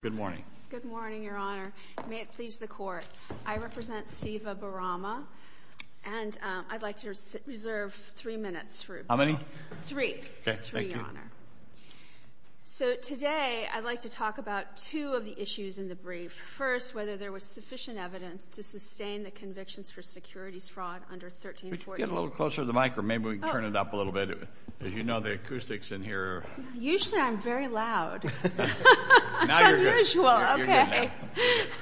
Good morning. Good morning, Your Honor. May it please the Court. I represent Siva Barama, and I'd like to reserve three minutes for you. How many? Three. Okay, thank you. Three, Your Honor. So today, I'd like to talk about two of the issues in the brief. First, whether there was sufficient evidence to sustain the convictions for securities fraud under 1340. Could you get a little closer to the mic, or maybe we can turn it up a little bit. As you know, the acoustics in here are. Usually, I'm very loud. Now you're good. It's unusual. Okay. You're good now.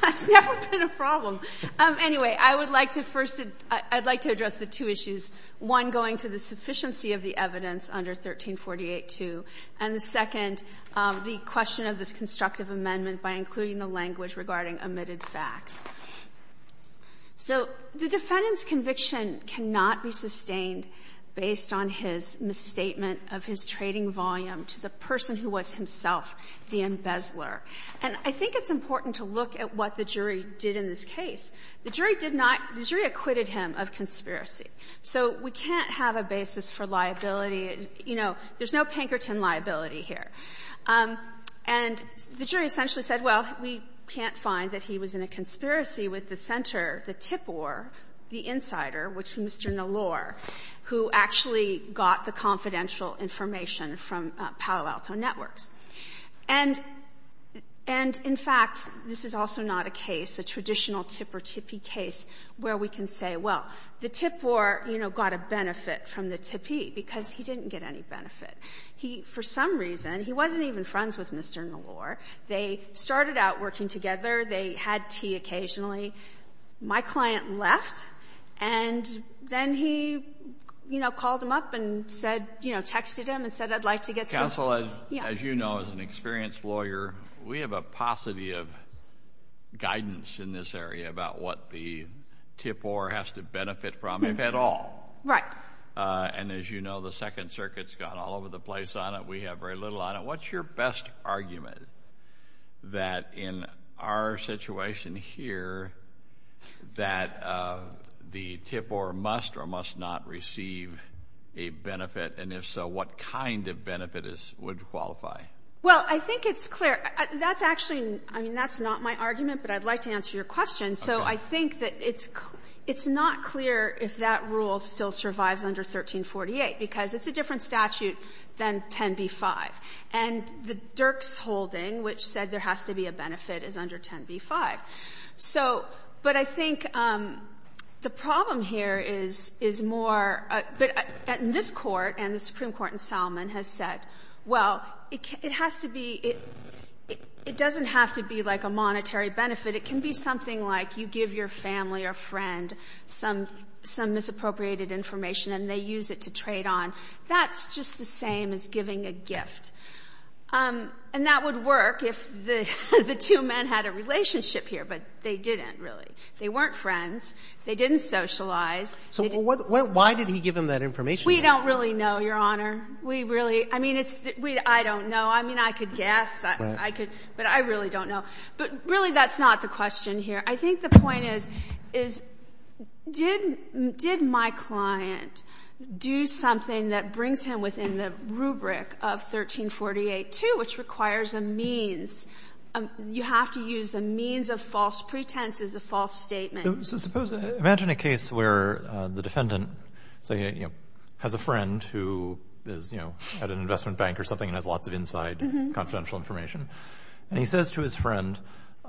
That's never been a problem. Anyway, I would like to first to, I'd like to address the two issues. One, going to the sufficiency of the evidence under 1348-2, and the second, the question of this constructive amendment by including the language regarding omitted facts. So the defendant's conviction cannot be sustained based on his misstatement of his trading volume to the person who was himself the embezzler. And I think it's important to look at what the jury did in this case. The jury did not the jury acquitted him of conspiracy. So we can't have a basis for liability. You know, there's no Pinkerton liability here. And the jury essentially said, well, we can't find that he was in a conspiracy with the center, the TIPOR, the insider, which Mr. Nallor, who actually got the confidential information from Palo Alto Networks. And in fact, this is also not a case, a traditional TIP or TIPI case, where we can say, well, the TIPOR, you know, got a benefit from the TIPI, because he didn't get any benefit. He, for some reason, he wasn't even friends with Mr. Nallor. They started out working together. They had tea occasionally. My client left, and then he, you know, called him up and said, you know, texted him and said, I'd like to get some. Counsel, as you know, as an experienced lawyer, we have a paucity of guidance in this area about what the TIPOR has to benefit from, if at all. Right. And as you know, the Second Circuit's got all over the place on it. We have very little on it. What's your best argument that in our situation here, that the TIPOR must or must not receive a benefit? And if so, what kind of benefit would qualify? Well, I think it's clear. That's actually, I mean, that's not my argument, but I'd like to answer your question. So I think that it's not clear if that rule still survives under 1348, because it's a different statute than 10b-5. And the Dirks holding, which said there has to be a benefit, is under 10b-5. So, but I think the problem here is more, but in this Court and the Supreme Court in Salomon has said, well, it has to be, it doesn't have to be like a monetary benefit. It can be a monetary benefit. It can be something like you give your family or friend some, some misappropriated information and they use it to trade on. That's just the same as giving a gift. And that would work if the two men had a relationship here, but they didn't, really. They weren't friends. They didn't socialize. So why did he give them that information? We don't really know, Your Honor. We really, I mean, it's, I don't know. I mean, I could be wrong. I don't know. But really, that's not the question here. I think the point is, is, did, did my client do something that brings him within the rubric of 1348-2, which requires a means, you have to use a means of false pretense as a false statement? So suppose, imagine a case where the defendant, say, you know, has a friend who is, you know, at an investment bank or something and has lots of inside confidential information. And he says to his friend,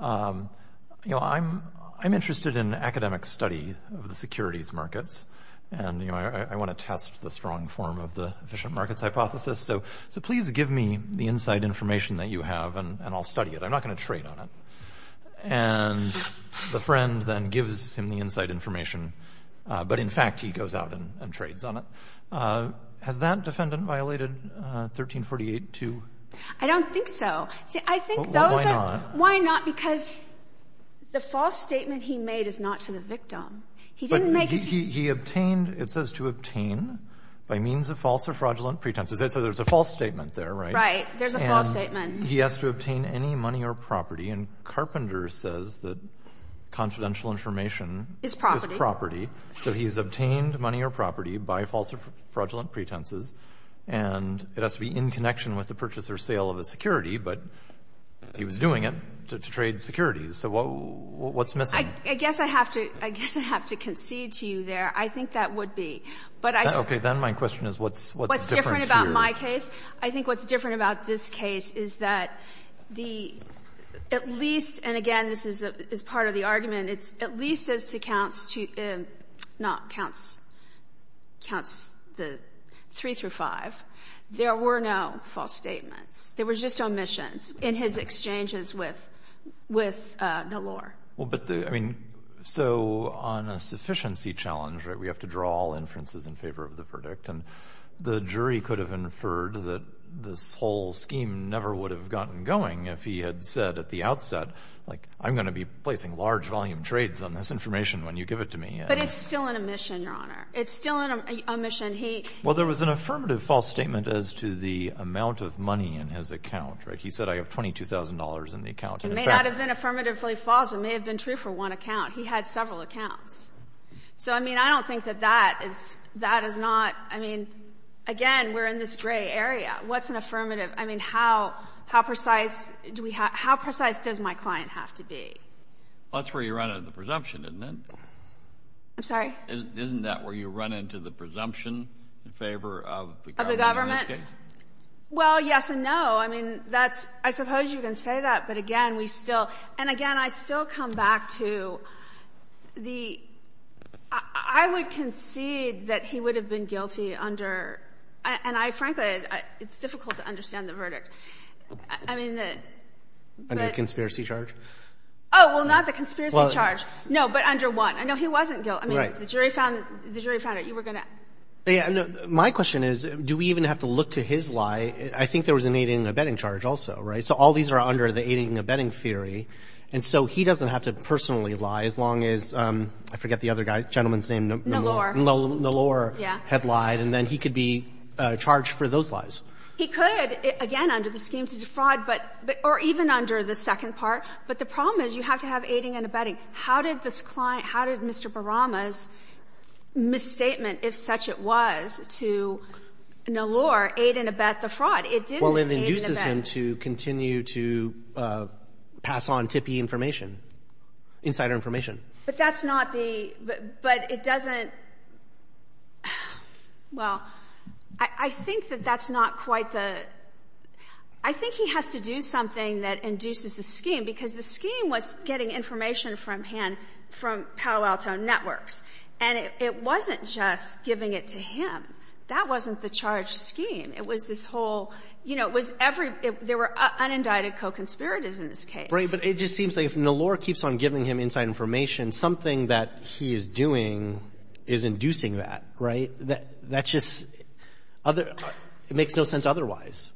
you know, I'm, I'm interested in academic study of the securities markets. And, you know, I, I want to test the strong form of the efficient markets hypothesis. So, so please give me the inside information that you have and I'll study it. I'm not going to trade on it. And the friend then gives him the inside information. But in fact, he goes out and trades on it. Has that defendant violated 1348-2? I don't think so. See, I think those are, Why not? Why not? Because the false statement he made is not to the victim. He didn't make it to But he, he, he obtained, it says, to obtain by means of false or fraudulent pretenses. So there's a false statement there, right? Right. There's a false statement. And he has to obtain any money or property. And Carpenter says that confidential information is property. So he's obtained money or property by false or fraudulent pretenses. And it has to be in connection with the purchase or sale of a security. But he was doing it to trade securities. So what, what's missing? I, I guess I have to, I guess I have to concede to you there. I think that would be. But I Okay. Then my question is, what's, what's different to your What's different about my case? I think what's different about this case is that the, at least, and again, this is the, is part of the argument, it's at least as to counts to, not counts, counts the three through five. There were no false statements. There was just omissions in his exchanges with, with Nalor. Well, but the, I mean, so on a sufficiency challenge, right, we have to draw all inferences in favor of the verdict. And the jury could have inferred that this whole scheme never would have gotten going if he had said at the outset, like, I'm going to be placing large volume trades on this information when you give it to me. But it's still an omission, Your Honor. It's still an omission. He Well, there was an affirmative false statement as to the amount of money in his account, right? He said, I have $22,000 in the account. It may not have been affirmatively false. It may have been true for one account. He had several accounts. So, I mean, I don't think that that is, that is not, I mean, again, we're in this gray area. What's an affirmative? I mean, how, how precise do we have, how precise does my client have to be? Well, that's where you run into the presumption, isn't it? I'm sorry? Isn't that where you run into the presumption in favor of the government? Okay. Well, yes and no. I mean, that's, I suppose you can say that, but again, we still, and again, I still come back to the, I would concede that he would have been guilty under, and I, frankly, it's difficult to understand the verdict. I mean, the Under the conspiracy charge? Oh, well, not the conspiracy charge. Well, No, but under one. I know he wasn't guilty. Right. I mean, the jury found, the jury found it. You were going to Yeah. My question is, do we even have to look to his lie? I think there was an aiding and abetting charge also, right? So all these are under the aiding and abetting theory. And so he doesn't have to personally lie as long as, I forget the other guy, gentleman's name. Nallor had lied. And then he could be charged for those lies. He could, again, under the scheme to defraud, but, or even under the second part. But the problem is you have to have aiding and abetting. How did this client, how did Mr. Barama's misstatement, if such it was, to Nallor aid and abet the fraud? It didn't aid and abet. Well, it induces him to continue to pass on tippy information, insider information. But that's not the, but it doesn't, well, I think that that's not quite the, I think he has to do something that induces the scheme, because the scheme was getting information from him from Palo Alto Networks. And it wasn't just giving it to him. That wasn't the charge scheme. It was this whole, you know, it was every, there were unindicted co-conspirators in this case. Right. But it just seems like if Nallor keeps on giving him inside information, something that he is doing is inducing that, right? That's just other, it makes no sense otherwise.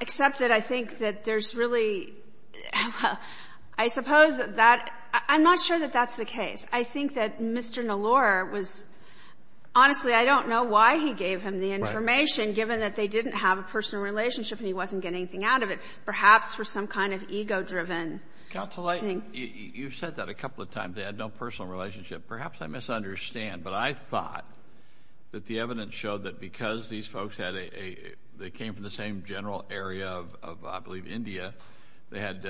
Except that I think that there's really, I suppose that, I'm not sure that that's the case. I think that Mr. Nallor was, honestly, I don't know why he gave him the information, given that they didn't have a personal relationship and he wasn't getting anything out of it, perhaps for some kind of ego-driven. Counsel, you've said that a couple of times. They had no personal relationship. Perhaps I misunderstand, but I thought that the evidence showed that because these folks had a, they came from the same general area of, I believe, India, they had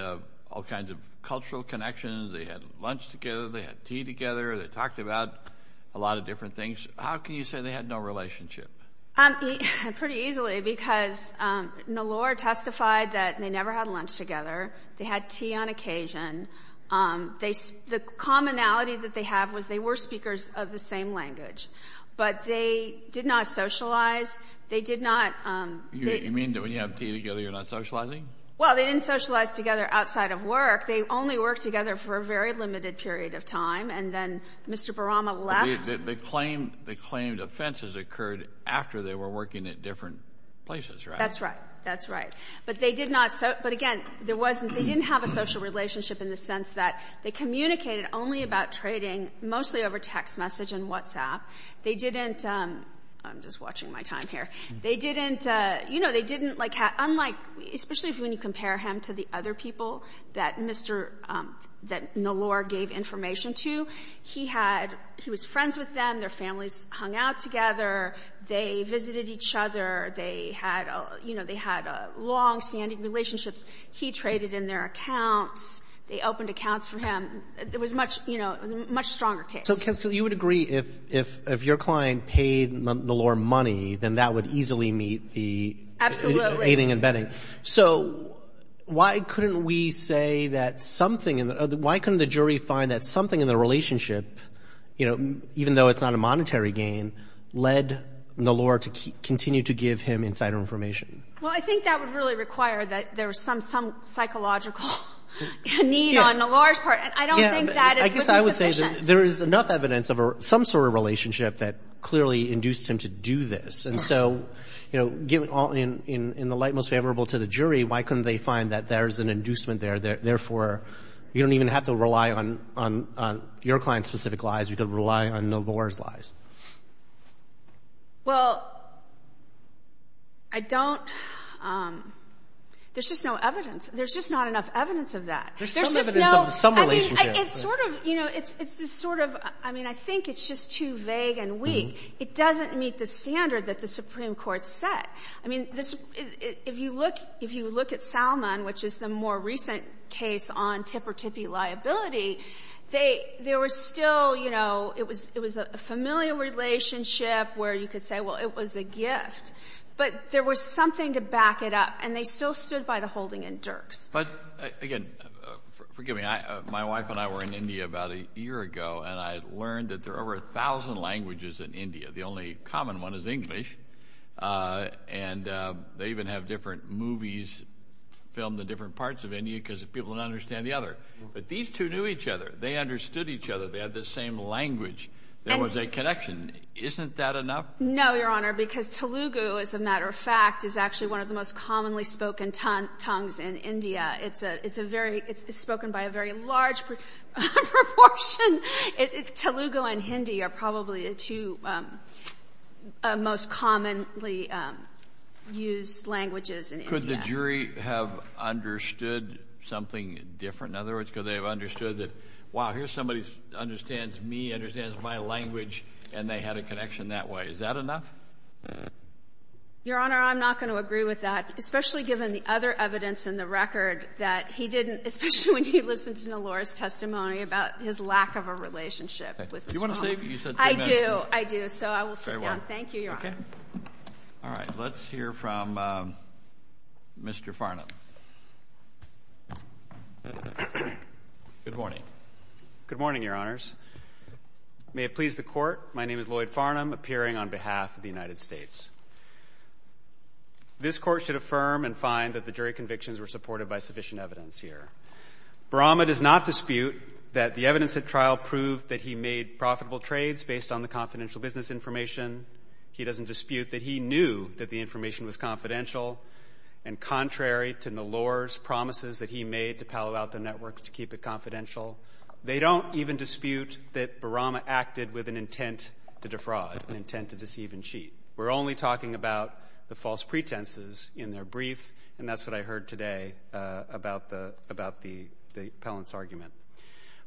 all kinds of cultural connections. They had lunch together. They had tea together. They talked about a lot of different things. How can you say they had no relationship? Pretty easily, because Nallor testified that they never had lunch together. They had tea on occasion. They, the commonality that they have was they were speakers of the same language, but they did not socialize. They did not. You mean that when you have tea together, you're not socializing? Well, they didn't socialize together outside of work. They only worked together for a very limited period of time, and then Mr. Barama left. But they claimed, they claimed offenses occurred after they were working at different places, right? That's right. That's right. But they did not, but again, there wasn't, they didn't have a social relationship in the sense that they communicated only about trading mostly over text message and WhatsApp. They didn't, I'm just watching my time here, they didn't, you know, they didn't like, unlike, especially when you compare him to the other people that Mr., that Nallor gave information to, he had, he was friends with them, their families hung out together, they visited each other, they had, you know, they had longstanding relationships. He traded in their accounts. They opened accounts for him. It was much, you know, a much stronger case. So, counsel, you would agree if your client paid Nallor money, then that would easily meet the aiding and abetting. So why couldn't we say that something, why couldn't the jury find that something in their relationship, you know, even though it's not a monetary gain, led Nallor to continue to give him insider information? Well, I think that would really require that there was some, some psychological need on Nallor's part, and I don't think that is witness- Yeah, I guess I would say there is enough evidence of some sort of relationship that clearly induced him to do this. And so, you know, given all, in the light most favorable to the jury, why couldn't they find that there is an inducement there, therefore, you don't even have to rely on your client's specific lies. You could rely on Nallor's lies. Well, I don't, there's just no evidence. There's just not enough evidence of that. There's some evidence of some relationship. I mean, it's sort of, you know, it's sort of, I mean, I think it's just too vague and weak. It doesn't meet the standard that the Supreme Court set. I mean, this, if you look, if you look at Salman, which is the more recent case on tipper-tippee liability, they, there were still, you know, it was, it was a familiar relationship where you could say, well, it was a gift. But there was something to back it up, and they still stood by the holding in But, again, forgive me, I, my wife and I were in India about a year ago, and I learned that there are over a thousand languages in India. The only common one is English, and they even have different movies filmed in different parts of India because people don't understand the other. But these two knew each other. They understood each other. They had the same language. There was a connection. Isn't that enough? No, Your Honor, because Telugu, as a matter of fact, is actually one of the most commonly spoken tongues in India. It's a, it's a very, it's spoken by a very large proportion. Telugu and Hindi are probably the two most commonly used languages in India. Could the jury have understood something different? In other words, could they have understood that, wow, here's somebody who understands me, understands my language, and they had a connection that way. Is that enough? Your Honor, I'm not going to agree with that, especially given the other evidence in the record that he didn't, especially when he listened to Nallora's testimony about his lack of a relationship with Mr. Khan. Do you want to say, you said three minutes. I do, I do, so I will sit down. Thank you, Your Honor. Okay. All right, let's hear from Mr. Farnham. Good morning. Good morning, Your Honors. May it please the Court, my name is Lloyd Farnham, appearing on behalf of the United States. This Court should affirm and find that the jury convictions were supported by sufficient evidence here. Barama does not dispute that the evidence at trial proved that he made profitable trades based on the confidential business information. He doesn't dispute that he knew that the information was confidential, and contrary to Nallora's promises that he made to Palo Alto Networks to keep it confidential, they don't even dispute that Barama acted with an intent to defraud, an intent to deceive and cheat. We're only talking about the false pretenses in their brief, and that's what I heard today about the appellant's argument.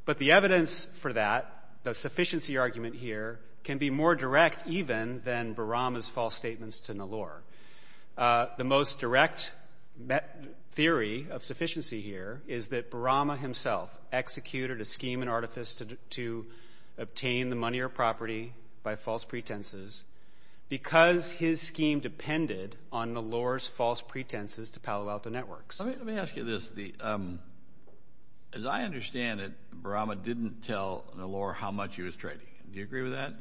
But the evidence for that, the sufficiency argument here, can be more direct even than Barama's false statements to Nallora. The most direct theory of sufficiency here is that Barama himself executed a scheme and artifice to obtain the money or property by false pretenses. Because his scheme depended on Nallora's false pretenses to Palo Alto Networks. Let me ask you this. As I understand it, Barama didn't tell Nallora how much he was trading. Do you agree with that?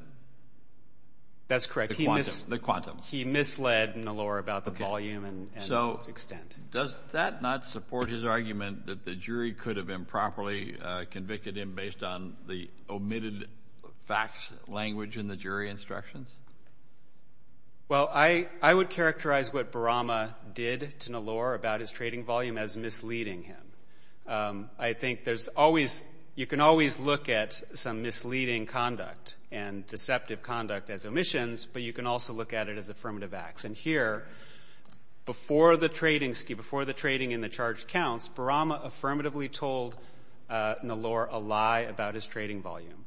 That's correct. The quantum. He misled Nallora about the volume and the extent. Does that not support his argument that the jury could have improperly convicted him based on the omitted facts language in the jury instructions? Well, I would characterize what Barama did to Nallora about his trading volume as misleading him. I think you can always look at some misleading conduct and deceptive conduct as omissions, but you can also look at it as affirmative acts. And here, before the trading scheme, before the trading and the charged counts, Barama affirmatively told Nallora a lie about his trading volume.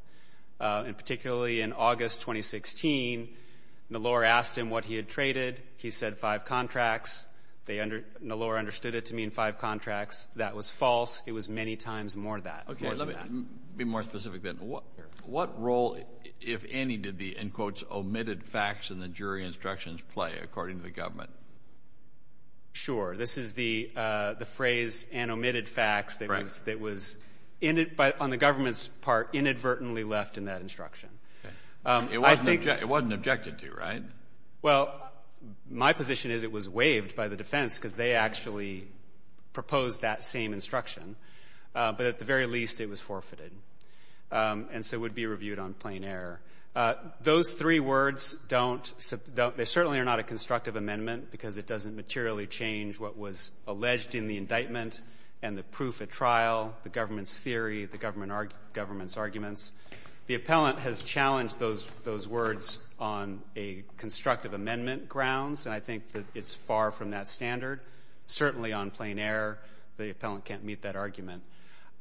And particularly in August 2016, Nallora asked him what he had traded. He said five contracts. Nallora understood it to mean five contracts. That was false. It was many times more than that. Let me be more specific then. What role, if any, did the, in quotes, omitted facts in the jury instructions play according to the government? Sure. This is the phrase and omitted facts that was, on the government's part, inadvertently left in that instruction. It wasn't objected to, right? Well, my position is it was waived by the defense because they actually proposed that same instruction, but at the very least it was forfeited and so would be reviewed on plain error. Those three words don't, they certainly are not a constructive amendment because it doesn't materially change what was alleged in the indictment and the proof at trial, the government's theory, the government's arguments. The appellant has challenged those words on a constructive amendment grounds, and I think that it's far from that standard. Certainly on plain error, the appellant can't meet that argument.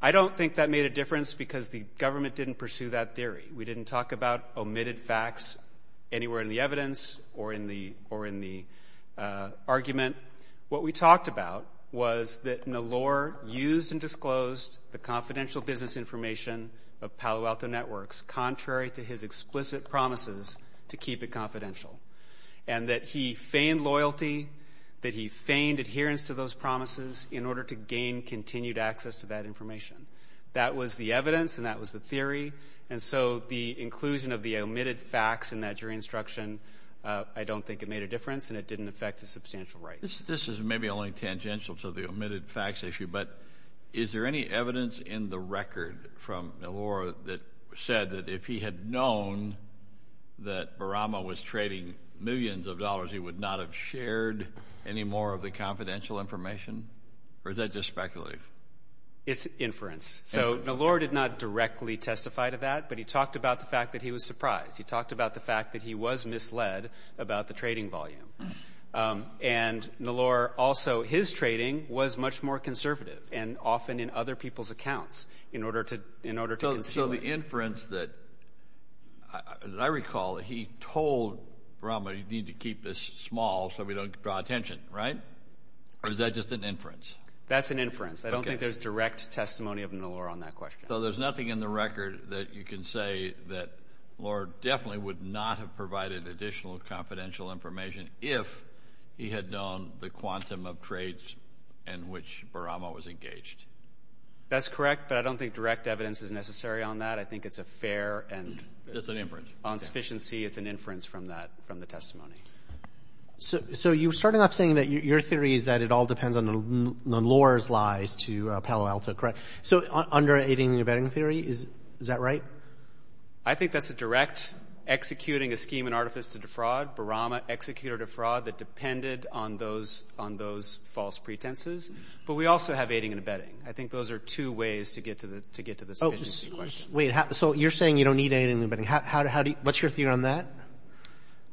I don't think that made a difference because the government didn't pursue that theory. We didn't talk about omitted facts anywhere in the evidence or in the argument. What we talked about was that Nallor used and disclosed the confidential business information of Palo Alto Networks, contrary to his explicit promises to keep it confidential, and that he feigned loyalty, that he feigned adherence to those promises in order to gain continued access to that information. That was the evidence and that was the theory, and so the inclusion of the omitted facts in that jury instruction, I don't think it made a difference, and it didn't affect his substantial rights. This is maybe only tangential to the omitted facts issue, but is there any evidence in the record from Nallor that said that if he had known that Barama was trading millions of dollars, he would not have shared any more of the confidential information, or is that just speculative? It's inference. So Nallor did not directly testify to that, but he talked about the fact that he was surprised. He talked about the fact that he was misled about the trading volume, and Nallor also, his trading was much more conservative and often in other people's accounts in order to conceal it. So the inference that, as I recall, he told Barama, you need to keep this small so we don't draw attention, right? Or is that just an inference? That's an inference. I don't think there's direct testimony of Nallor on that question. So there's nothing in the record that you can say that Nallor definitely would not have provided additional confidential information if he had known the quantum of trades in which Barama was engaged. That's correct, but I don't think direct evidence is necessary on that. I think it's a fair and— It's an inference. On sufficiency, it's an inference from the testimony. So you're starting off saying that your theory is that it all depends on Nallor's lies to Palo Alto, correct? So under aiding and abetting theory, is that right? I think that's a direct executing a scheme and artifice to defraud, Barama executed a fraud that depended on those false pretenses, but we also have aiding and abetting. I think those are two ways to get to the sufficiency question. Wait, so you're saying you don't need aiding and abetting. What's your theory on that?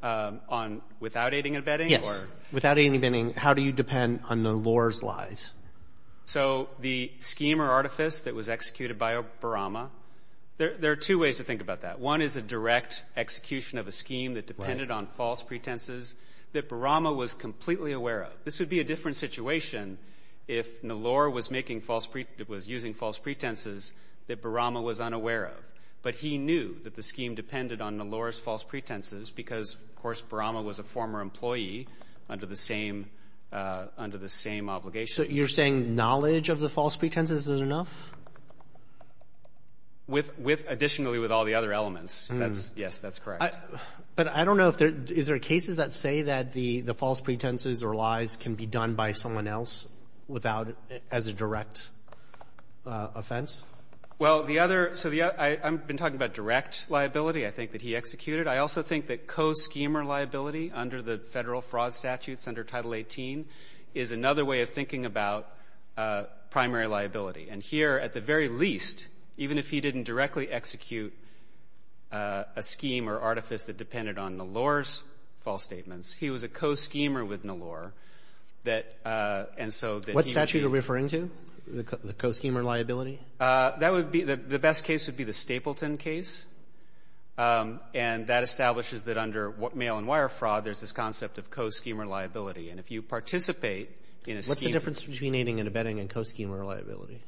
On without aiding and abetting? Yes, without aiding and abetting, how do you depend on Nallor's lies? So the scheme or artifice that was executed by Barama, there are two ways to think about that. One is a direct execution of a scheme that depended on false pretenses that Barama was completely aware of. This would be a different situation if Nallor was using false pretenses that Barama was unaware of, but he knew that the scheme depended on Nallor's false pretenses because, of course, Barama was a former employee under the same obligation. So you're saying knowledge of the false pretenses is enough? Additionally, with all the other elements. Yes, that's correct. But I don't know, is there cases that say that the false pretenses or lies can be done by someone else as a direct offense? Well, I've been talking about direct liability, I think, that he executed. I also think that co-schemer liability under the federal fraud statutes under Title 18 is another way of thinking about primary liability. And here, at the very least, even if he didn't directly execute a scheme or artifice that depended on Nallor's false statements, he was a co-schemer with Nallor. What statute are you referring to, the co-schemer liability? The best case would be the Stapleton case. And that establishes that under mail and wire fraud, there's this concept of co-schemer liability. And if you participate in a scheme... What's the difference between aiding and abetting and co-schemer liability?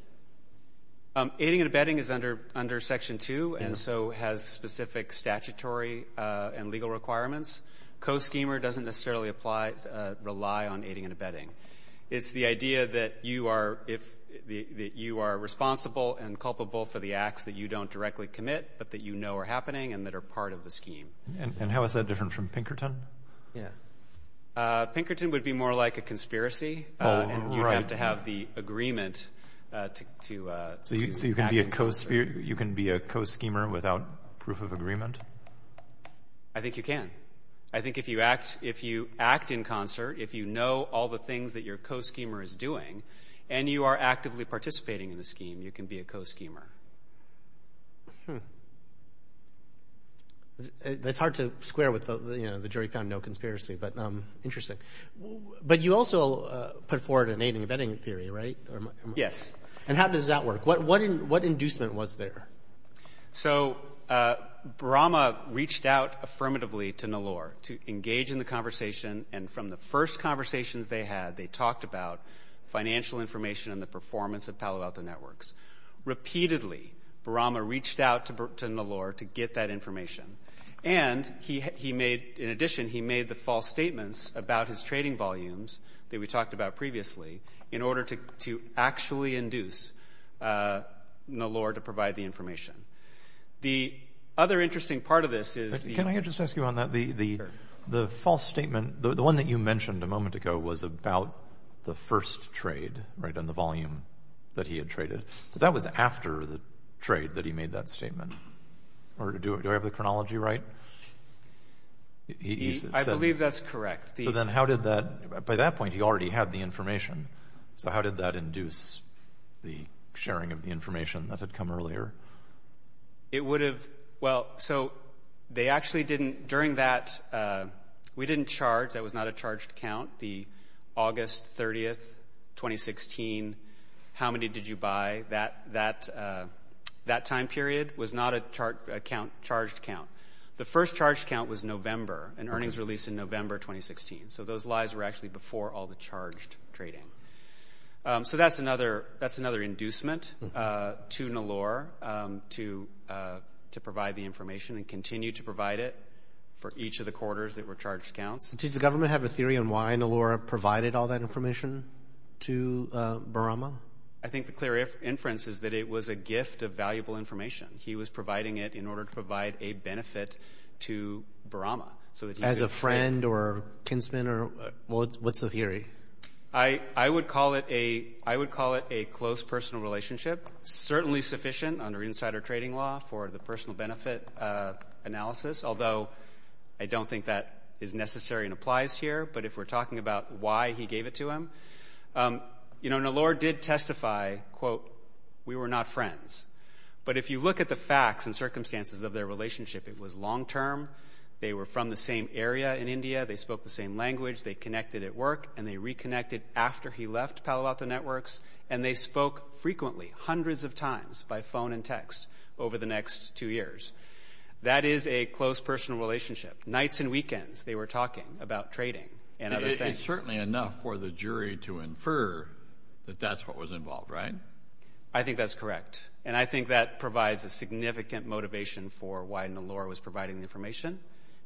Aiding and abetting is under Section 2 and so has specific statutory and legal requirements. Co-schemer doesn't necessarily rely on aiding and abetting. It's the idea that you are responsible and culpable for the acts that you don't directly commit but that you know are happening and that are part of the scheme. And how is that different from Pinkerton? Pinkerton would be more like a conspiracy. And you'd have to have the agreement to... So you can be a co-schemer without proof of agreement? I think you can. I think if you act in concert, if you know all the things that your co-schemer is doing and you are actively participating in the scheme, you can be a co-schemer. That's hard to square with the jury found no conspiracy, but interesting. But you also put forward an aiding and abetting theory, right? Yes. And how does that work? What inducement was there? So Brahma reached out affirmatively to Nallor to engage in the conversation. And from the first conversations they had, they talked about financial information and the performance of Palo Alto networks. Repeatedly, Brahma reached out to Nallor to get that information. And in addition, he made the false statements about his trading volumes that we talked about previously in order to actually induce Nallor to provide the information. The other interesting part of this is... Can I just ask you on that? The false statement, the one that you mentioned a moment ago, was about the first trade and the volume that he had traded. That was after the trade that he made that statement. Do I have the chronology right? I believe that's correct. By that point, he already had the information. So how did that induce the sharing of the information that had come earlier? It would have... Well, so they actually didn't... During that, we didn't charge. That was not a charged count. The August 30th, 2016, how many did you buy? That time period was not a charged count. The first charged count was November, an earnings release in November 2016. So those lies were actually before all the charged trading. So that's another inducement to Nallor to provide the information and continue to provide it for each of the quarters that were charged counts. Did the government have a theory on why Nallor provided all that information to Barama? I think the clear inference is that it was a gift of valuable information. He was providing it in order to provide a benefit to Barama. As a friend or kinsman? What's the theory? I would call it a close personal relationship, certainly sufficient under insider trading law for the personal benefit analysis, although I don't think that is necessary and applies here. But if we're talking about why he gave it to him, Nallor did testify, quote, we were not friends. But if you look at the facts and circumstances of their relationship, it was long-term. They were from the same area in India. They spoke the same language. They connected at work. And they reconnected after he left Palo Alto Networks. And they spoke frequently, hundreds of times, by phone and text over the next two years. That is a close personal relationship. Nights and weekends they were talking about trading and other things. It's certainly enough for the jury to infer that that's what was involved, right? I think that's correct. And I think that provides a significant motivation for why Nallor was providing the information.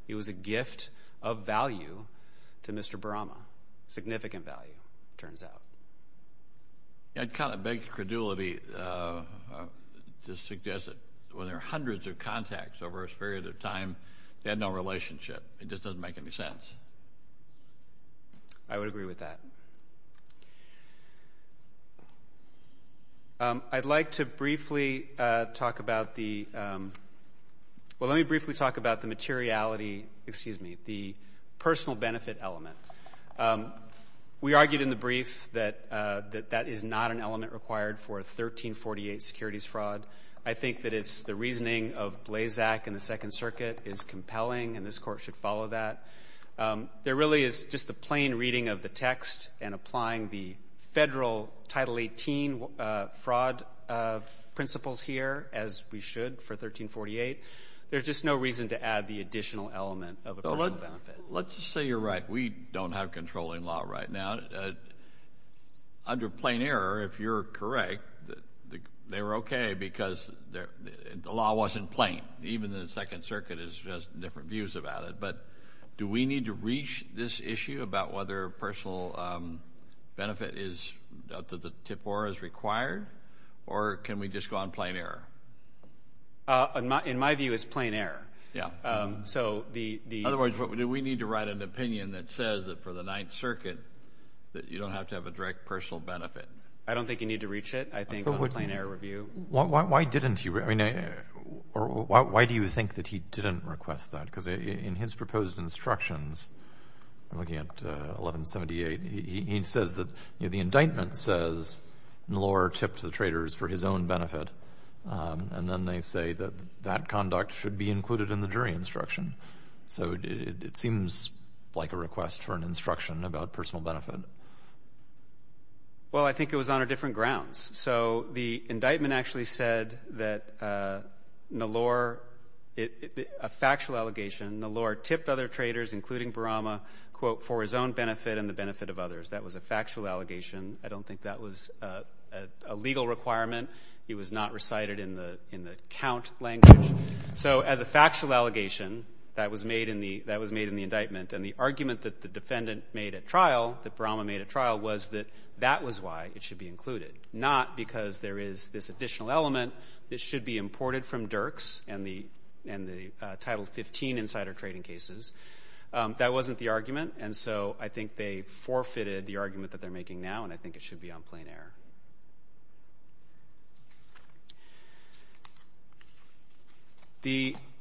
It was a gift of value to Mr. Barama, significant value, it turns out. I'd kind of beg credulity to suggest that when there are hundreds of contacts over a period of time, they had no relationship. It just doesn't make any sense. I would agree with that. I'd like to briefly talk about the – well, let me briefly talk about the materiality – excuse me, the personal benefit element. We argued in the brief that that is not an element required for a 1348 securities fraud. I think that it's the reasoning of Blazak in the Second Circuit is compelling, and this Court should follow that. There really is just the plain reading of the text and applying the federal Title 18 fraud principles here, as we should, for 1348. There's just no reason to add the additional element of a personal benefit. Let's just say you're right. We don't have controlling law right now. Under plain error, if you're correct, they were okay because the law wasn't plain. Even the Second Circuit has different views about it. But do we need to reach this issue about whether personal benefit is – that the TIFOR is required, or can we just go on plain error? In my view, it's plain error. In other words, do we need to write an opinion that says that for the Ninth Circuit that you don't have to have a direct personal benefit? I don't think you need to reach it, I think, on a plain error review. Why didn't he – or why do you think that he didn't request that? Because in his proposed instructions, looking at 1178, he says that the indictment says Nallor tipped the traders for his own benefit, and then they say that that conduct should be included in the jury instruction. So it seems like a request for an instruction about personal benefit. Well, I think it was on a different grounds. So the indictment actually said that Nallor – a factual allegation, Nallor tipped other traders, including Barama, quote, for his own benefit and the benefit of others. That was a factual allegation. I don't think that was a legal requirement. It was not recited in the count language. So as a factual allegation, that was made in the indictment. And the argument that the defendant made at trial, that Barama made at trial, was that that was why it should be included, not because there is this additional element that should be imported from Dirks and the Title 15 insider trading cases. That wasn't the argument. And so I think they forfeited the argument that they're making now, and I think it should be on plain error.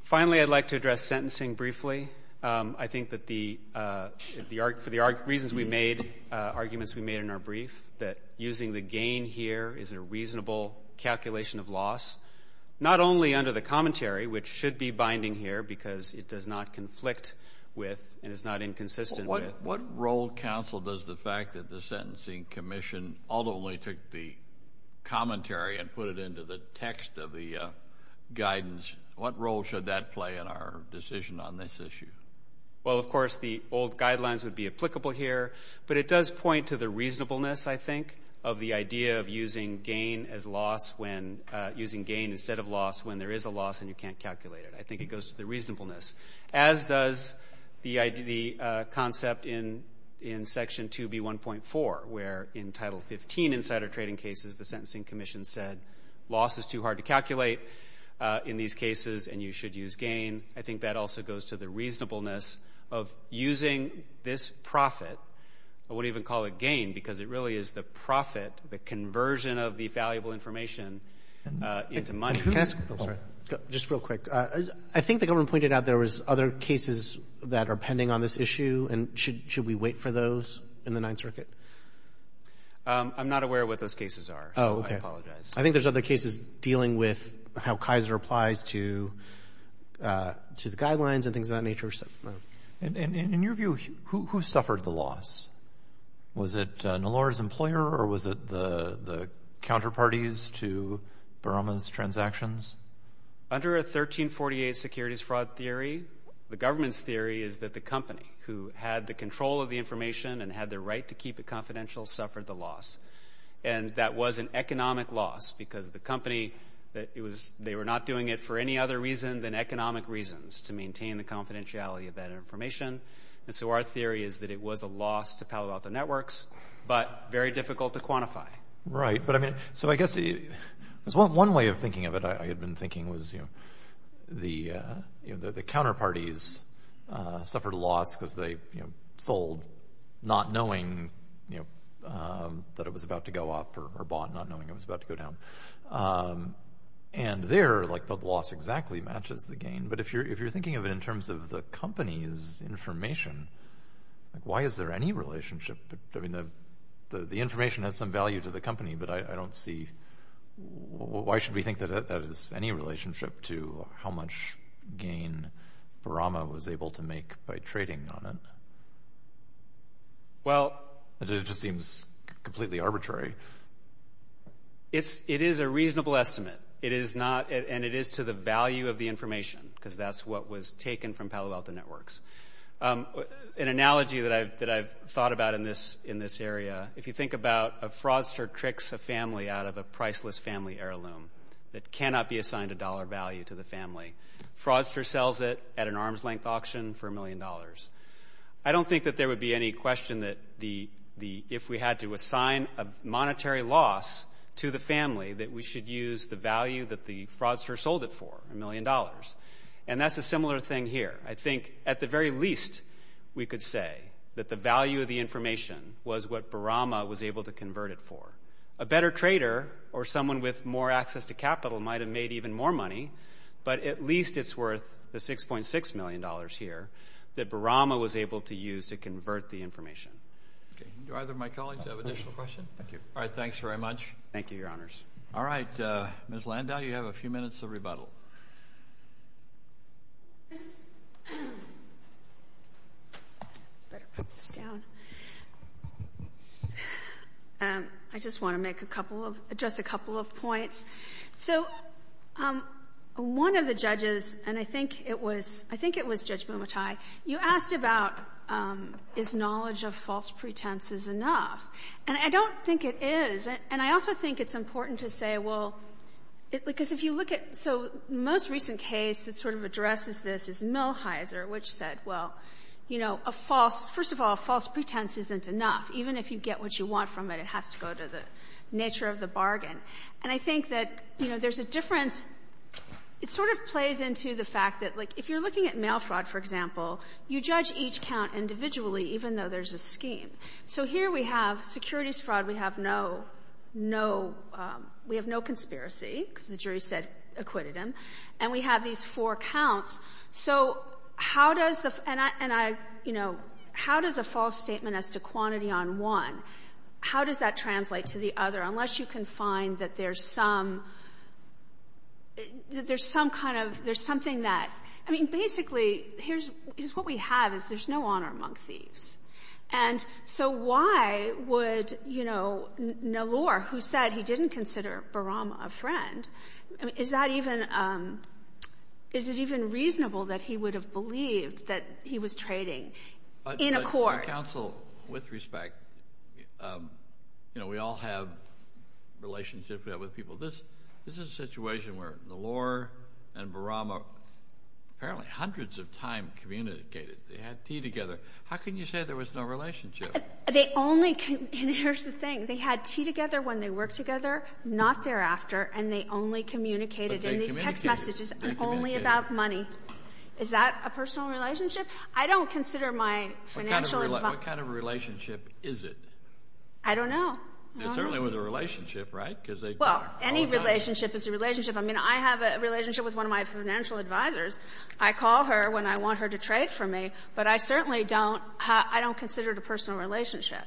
Finally, I'd like to address sentencing briefly. I think that for the reasons we made, arguments we made in our brief, that using the gain here is a reasonable calculation of loss, not only under the commentary, which should be binding here because it does not conflict with and is not inconsistent with. What role, counsel, does the fact that the Sentencing Commission ultimately took the commentary and put it into the text of the guidance, what role should that play in our decision on this issue? Well, of course, the old guidelines would be applicable here, but it does point to the reasonableness, I think, of the idea of using gain instead of loss when there is a loss and you can't calculate it. I think it goes to the reasonableness, as does the concept in Section 2B1.4, where in Title 15 insider trading cases the Sentencing Commission said loss is too hard to calculate in these cases and you should use gain. I think that also goes to the reasonableness of using this profit, I wouldn't even call it gain because it really is the profit, the conversion of the valuable information into money. Just real quick, I think the government pointed out there was other cases that are pending on this issue and should we wait for those in the Ninth Circuit? I'm not aware of what those cases are, so I apologize. I think there's other cases dealing with how Kaiser applies to the guidelines and things of that nature. In your view, who suffered the loss? Was it Nalora's employer or was it the counterparties to Barama's transactions? Under a 1348 securities fraud theory, the government's theory is that the company who had the control of the information and had the right to keep it confidential suffered the loss, and that was an economic loss because the company, they were not doing it for any other reason than economic reasons to maintain the confidentiality of that information, and so our theory is that it was a loss to Palo Alto Networks, but very difficult to quantify. Right, so I guess one way of thinking of it I had been thinking was the counterparties suffered a loss because they sold not knowing that it was about to go up or bought not knowing it was about to go down. And there, the loss exactly matches the gain, but if you're thinking of it in terms of the company's information, why is there any relationship? The information has some value to the company, but I don't see, why should we think that has any relationship to how much gain Barama was able to make by trading on it? It just seems completely arbitrary. It is a reasonable estimate, and it is to the value of the information because that's what was taken from Palo Alto Networks. An analogy that I've thought about in this area, if you think about a fraudster tricks a family out of a priceless family heirloom that cannot be assigned a dollar value to the family. Fraudster sells it at an arm's length auction for a million dollars. I don't think that there would be any question that if we had to assign a monetary loss to the family that we should use the value that the fraudster sold it for, a million dollars. And that's a similar thing here. I think at the very least we could say that the value of the information was what Barama was able to convert it for. A better trader or someone with more access to capital might have made even more money, but at least it's worth the $6.6 million here that Barama was able to use to convert the information. Do either of my colleagues have additional questions? Thank you. All right, thanks very much. Thank you, Your Honors. All right, Ms. Landau, you have a few minutes of rebuttal. I just want to address a couple of points. So one of the judges, and I think it was Judge Momotai, you asked about is knowledge of false pretense is enough. And I don't think it is. And I also think it's important to say, well, because if you look at so most recent case that sort of addresses this is Millhiser, which said, well, you know, a false — first of all, a false pretense isn't enough. Even if you get what you want from it, it has to go to the nature of the bargain. And I think that, you know, there's a difference — it sort of plays into the fact that, like, if you're looking at mail fraud, for example, you judge each count individually even though there's a scheme. So here we have securities fraud. We have no conspiracy because the jury said acquitted him. And we have these four counts. So how does the — and I — you know, how does a false statement as to quantity on one, how does that translate to the other, unless you can find that there's some — that there's some kind of — there's something that — I mean, basically, here's what we have is there's no honor among thieves. And so why would, you know, Nallor, who said he didn't consider Barama a friend, is that even — is it even reasonable that he would have believed that he was trading in a court? Well, Counsel, with respect, you know, we all have relationships we have with people. This is a situation where Nallor and Barama apparently hundreds of times communicated. They had tea together. How can you say there was no relationship? They only — and here's the thing. They had tea together when they worked together, not thereafter, and they only communicated in these text messages and only about money. Is that a personal relationship? I don't consider my financial — What kind of relationship is it? I don't know. It certainly was a relationship, right? Well, any relationship is a relationship. I mean, I have a relationship with one of my financial advisors. I call her when I want her to trade for me, but I certainly don't — I don't consider it a personal relationship.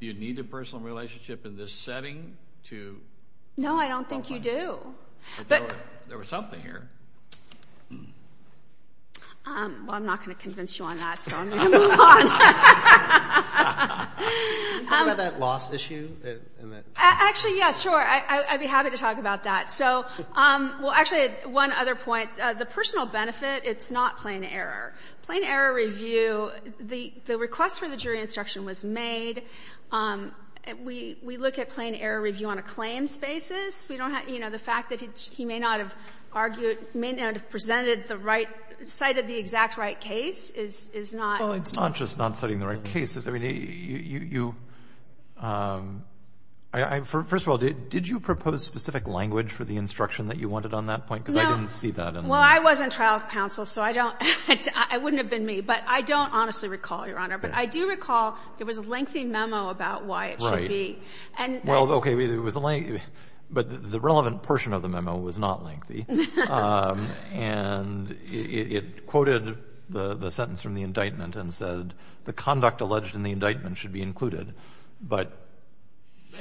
Do you need a personal relationship in this setting to — No, I don't think you do. But — There was something here. Well, I'm not going to convince you on that, so I'm going to move on. Can you talk about that loss issue? Actually, yeah, sure. I'd be happy to talk about that. So — well, actually, one other point. The personal benefit, it's not plain error. Plain error review, the request for the jury instruction was made. We look at plain error review on a claims basis. We don't have — you know, the fact that he may not have argued — may not have presented the right — cited the exact right case is not — Well, it's not just not citing the right case. I mean, you — first of all, did you propose specific language for the instruction that you wanted on that point? No. Because I didn't see that in the — Well, I was in trial counsel, so I don't — it wouldn't have been me. But I don't honestly recall, Your Honor. But I do recall there was a lengthy memo about why it should be. Well, okay, it was a lengthy — but the relevant portion of the memo was not lengthy. And it quoted the sentence from the indictment and said, the conduct alleged in the indictment should be included. But didn't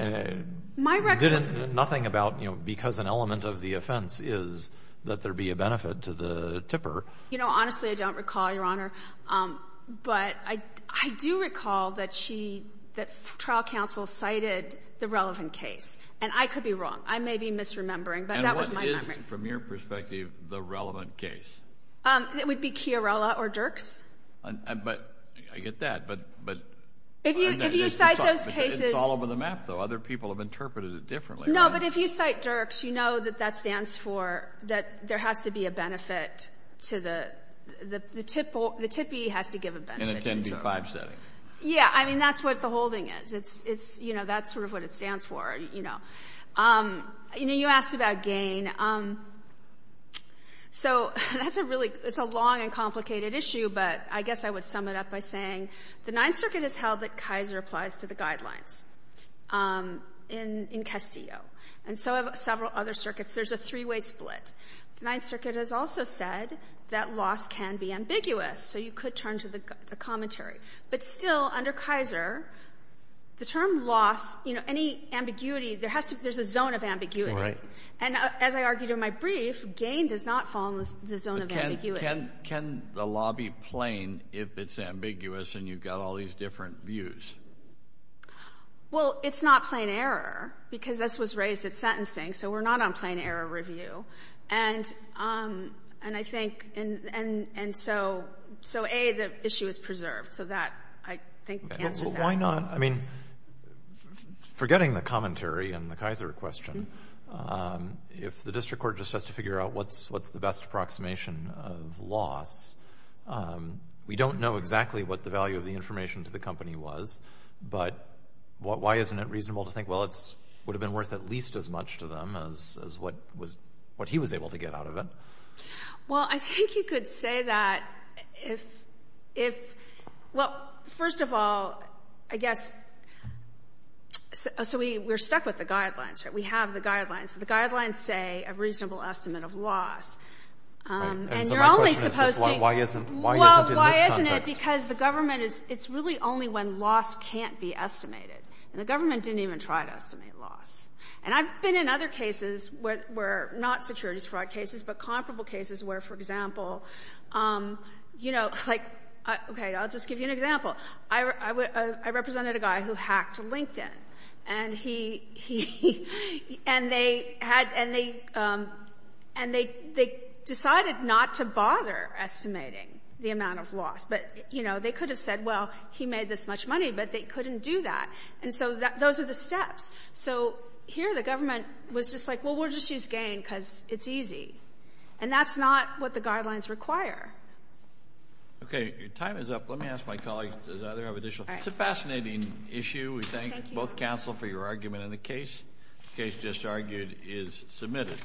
— nothing about, you know, because an element of the offense is that there be a benefit to the tipper. You know, honestly, I don't recall, Your Honor. But I do recall that she — that trial counsel cited the relevant case. And I could be wrong. I may be misremembering, but that was my memory. And what is, from your perspective, the relevant case? It would be Chiarella or Dirks. But — I get that. But — If you cite those cases — It's all over the map, though. Other people have interpreted it differently. No, but if you cite Dirks, you know that that stands for that there has to be a benefit to the — the tippee has to give a benefit. And it can be five-setting. Yeah. I mean, that's what the holding is. It's, you know, that's sort of what it stands for, you know. You know, you asked about gain. So that's a really — it's a long and complicated issue, but I guess I would sum it up by saying the Ninth Circuit has held that Kaiser applies to the guidelines in Castillo. And so have several other circuits. There's a three-way split. The Ninth Circuit has also said that loss can be ambiguous. So you could turn to the commentary. But still, under Kaiser, the term loss, you know, any ambiguity, there has to be — there's a zone of ambiguity. And as I argued in my brief, gain does not fall in the zone of ambiguity. Can the law be plain if it's ambiguous and you've got all these different views? Well, it's not plain error because this was raised at sentencing, so we're not on plain error review. And I think — and so, A, the issue is preserved. So that, I think, answers that. Why not? I mean, forgetting the commentary and the Kaiser question, if the district court just has to figure out what's the best approximation of loss, we don't know exactly what the value of the information to the company was, but why isn't it reasonable to think, well, it would have been worth at least as much to them as what he was able to get out of it? Well, I think you could say that if — well, first of all, I guess — so we're stuck with the guidelines, right? We have the guidelines. The guidelines say a reasonable estimate of loss. And you're only supposed to — And so my question is, why isn't it in this context? Well, why isn't it? Because the government is — it's really only when loss can't be estimated. And the government didn't even try to estimate loss. And I've been in other cases where — not securities fraud cases, but comparable cases where, for example, you know, like — okay, I'll just give you an example. I represented a guy who hacked LinkedIn. And he — and they had — and they decided not to bother estimating the amount of loss. But, you know, they could have said, well, he made this much money, but they couldn't do that. And so those are the steps. So here the government was just like, well, we'll just use gain because it's easy. And that's not what the guidelines require. Okay. Your time is up. Let me ask my colleague, does either of you have additional — All right. It's a fascinating issue. Thank you. We thank both counsel for your argument. And the case, the case just argued, is submitted.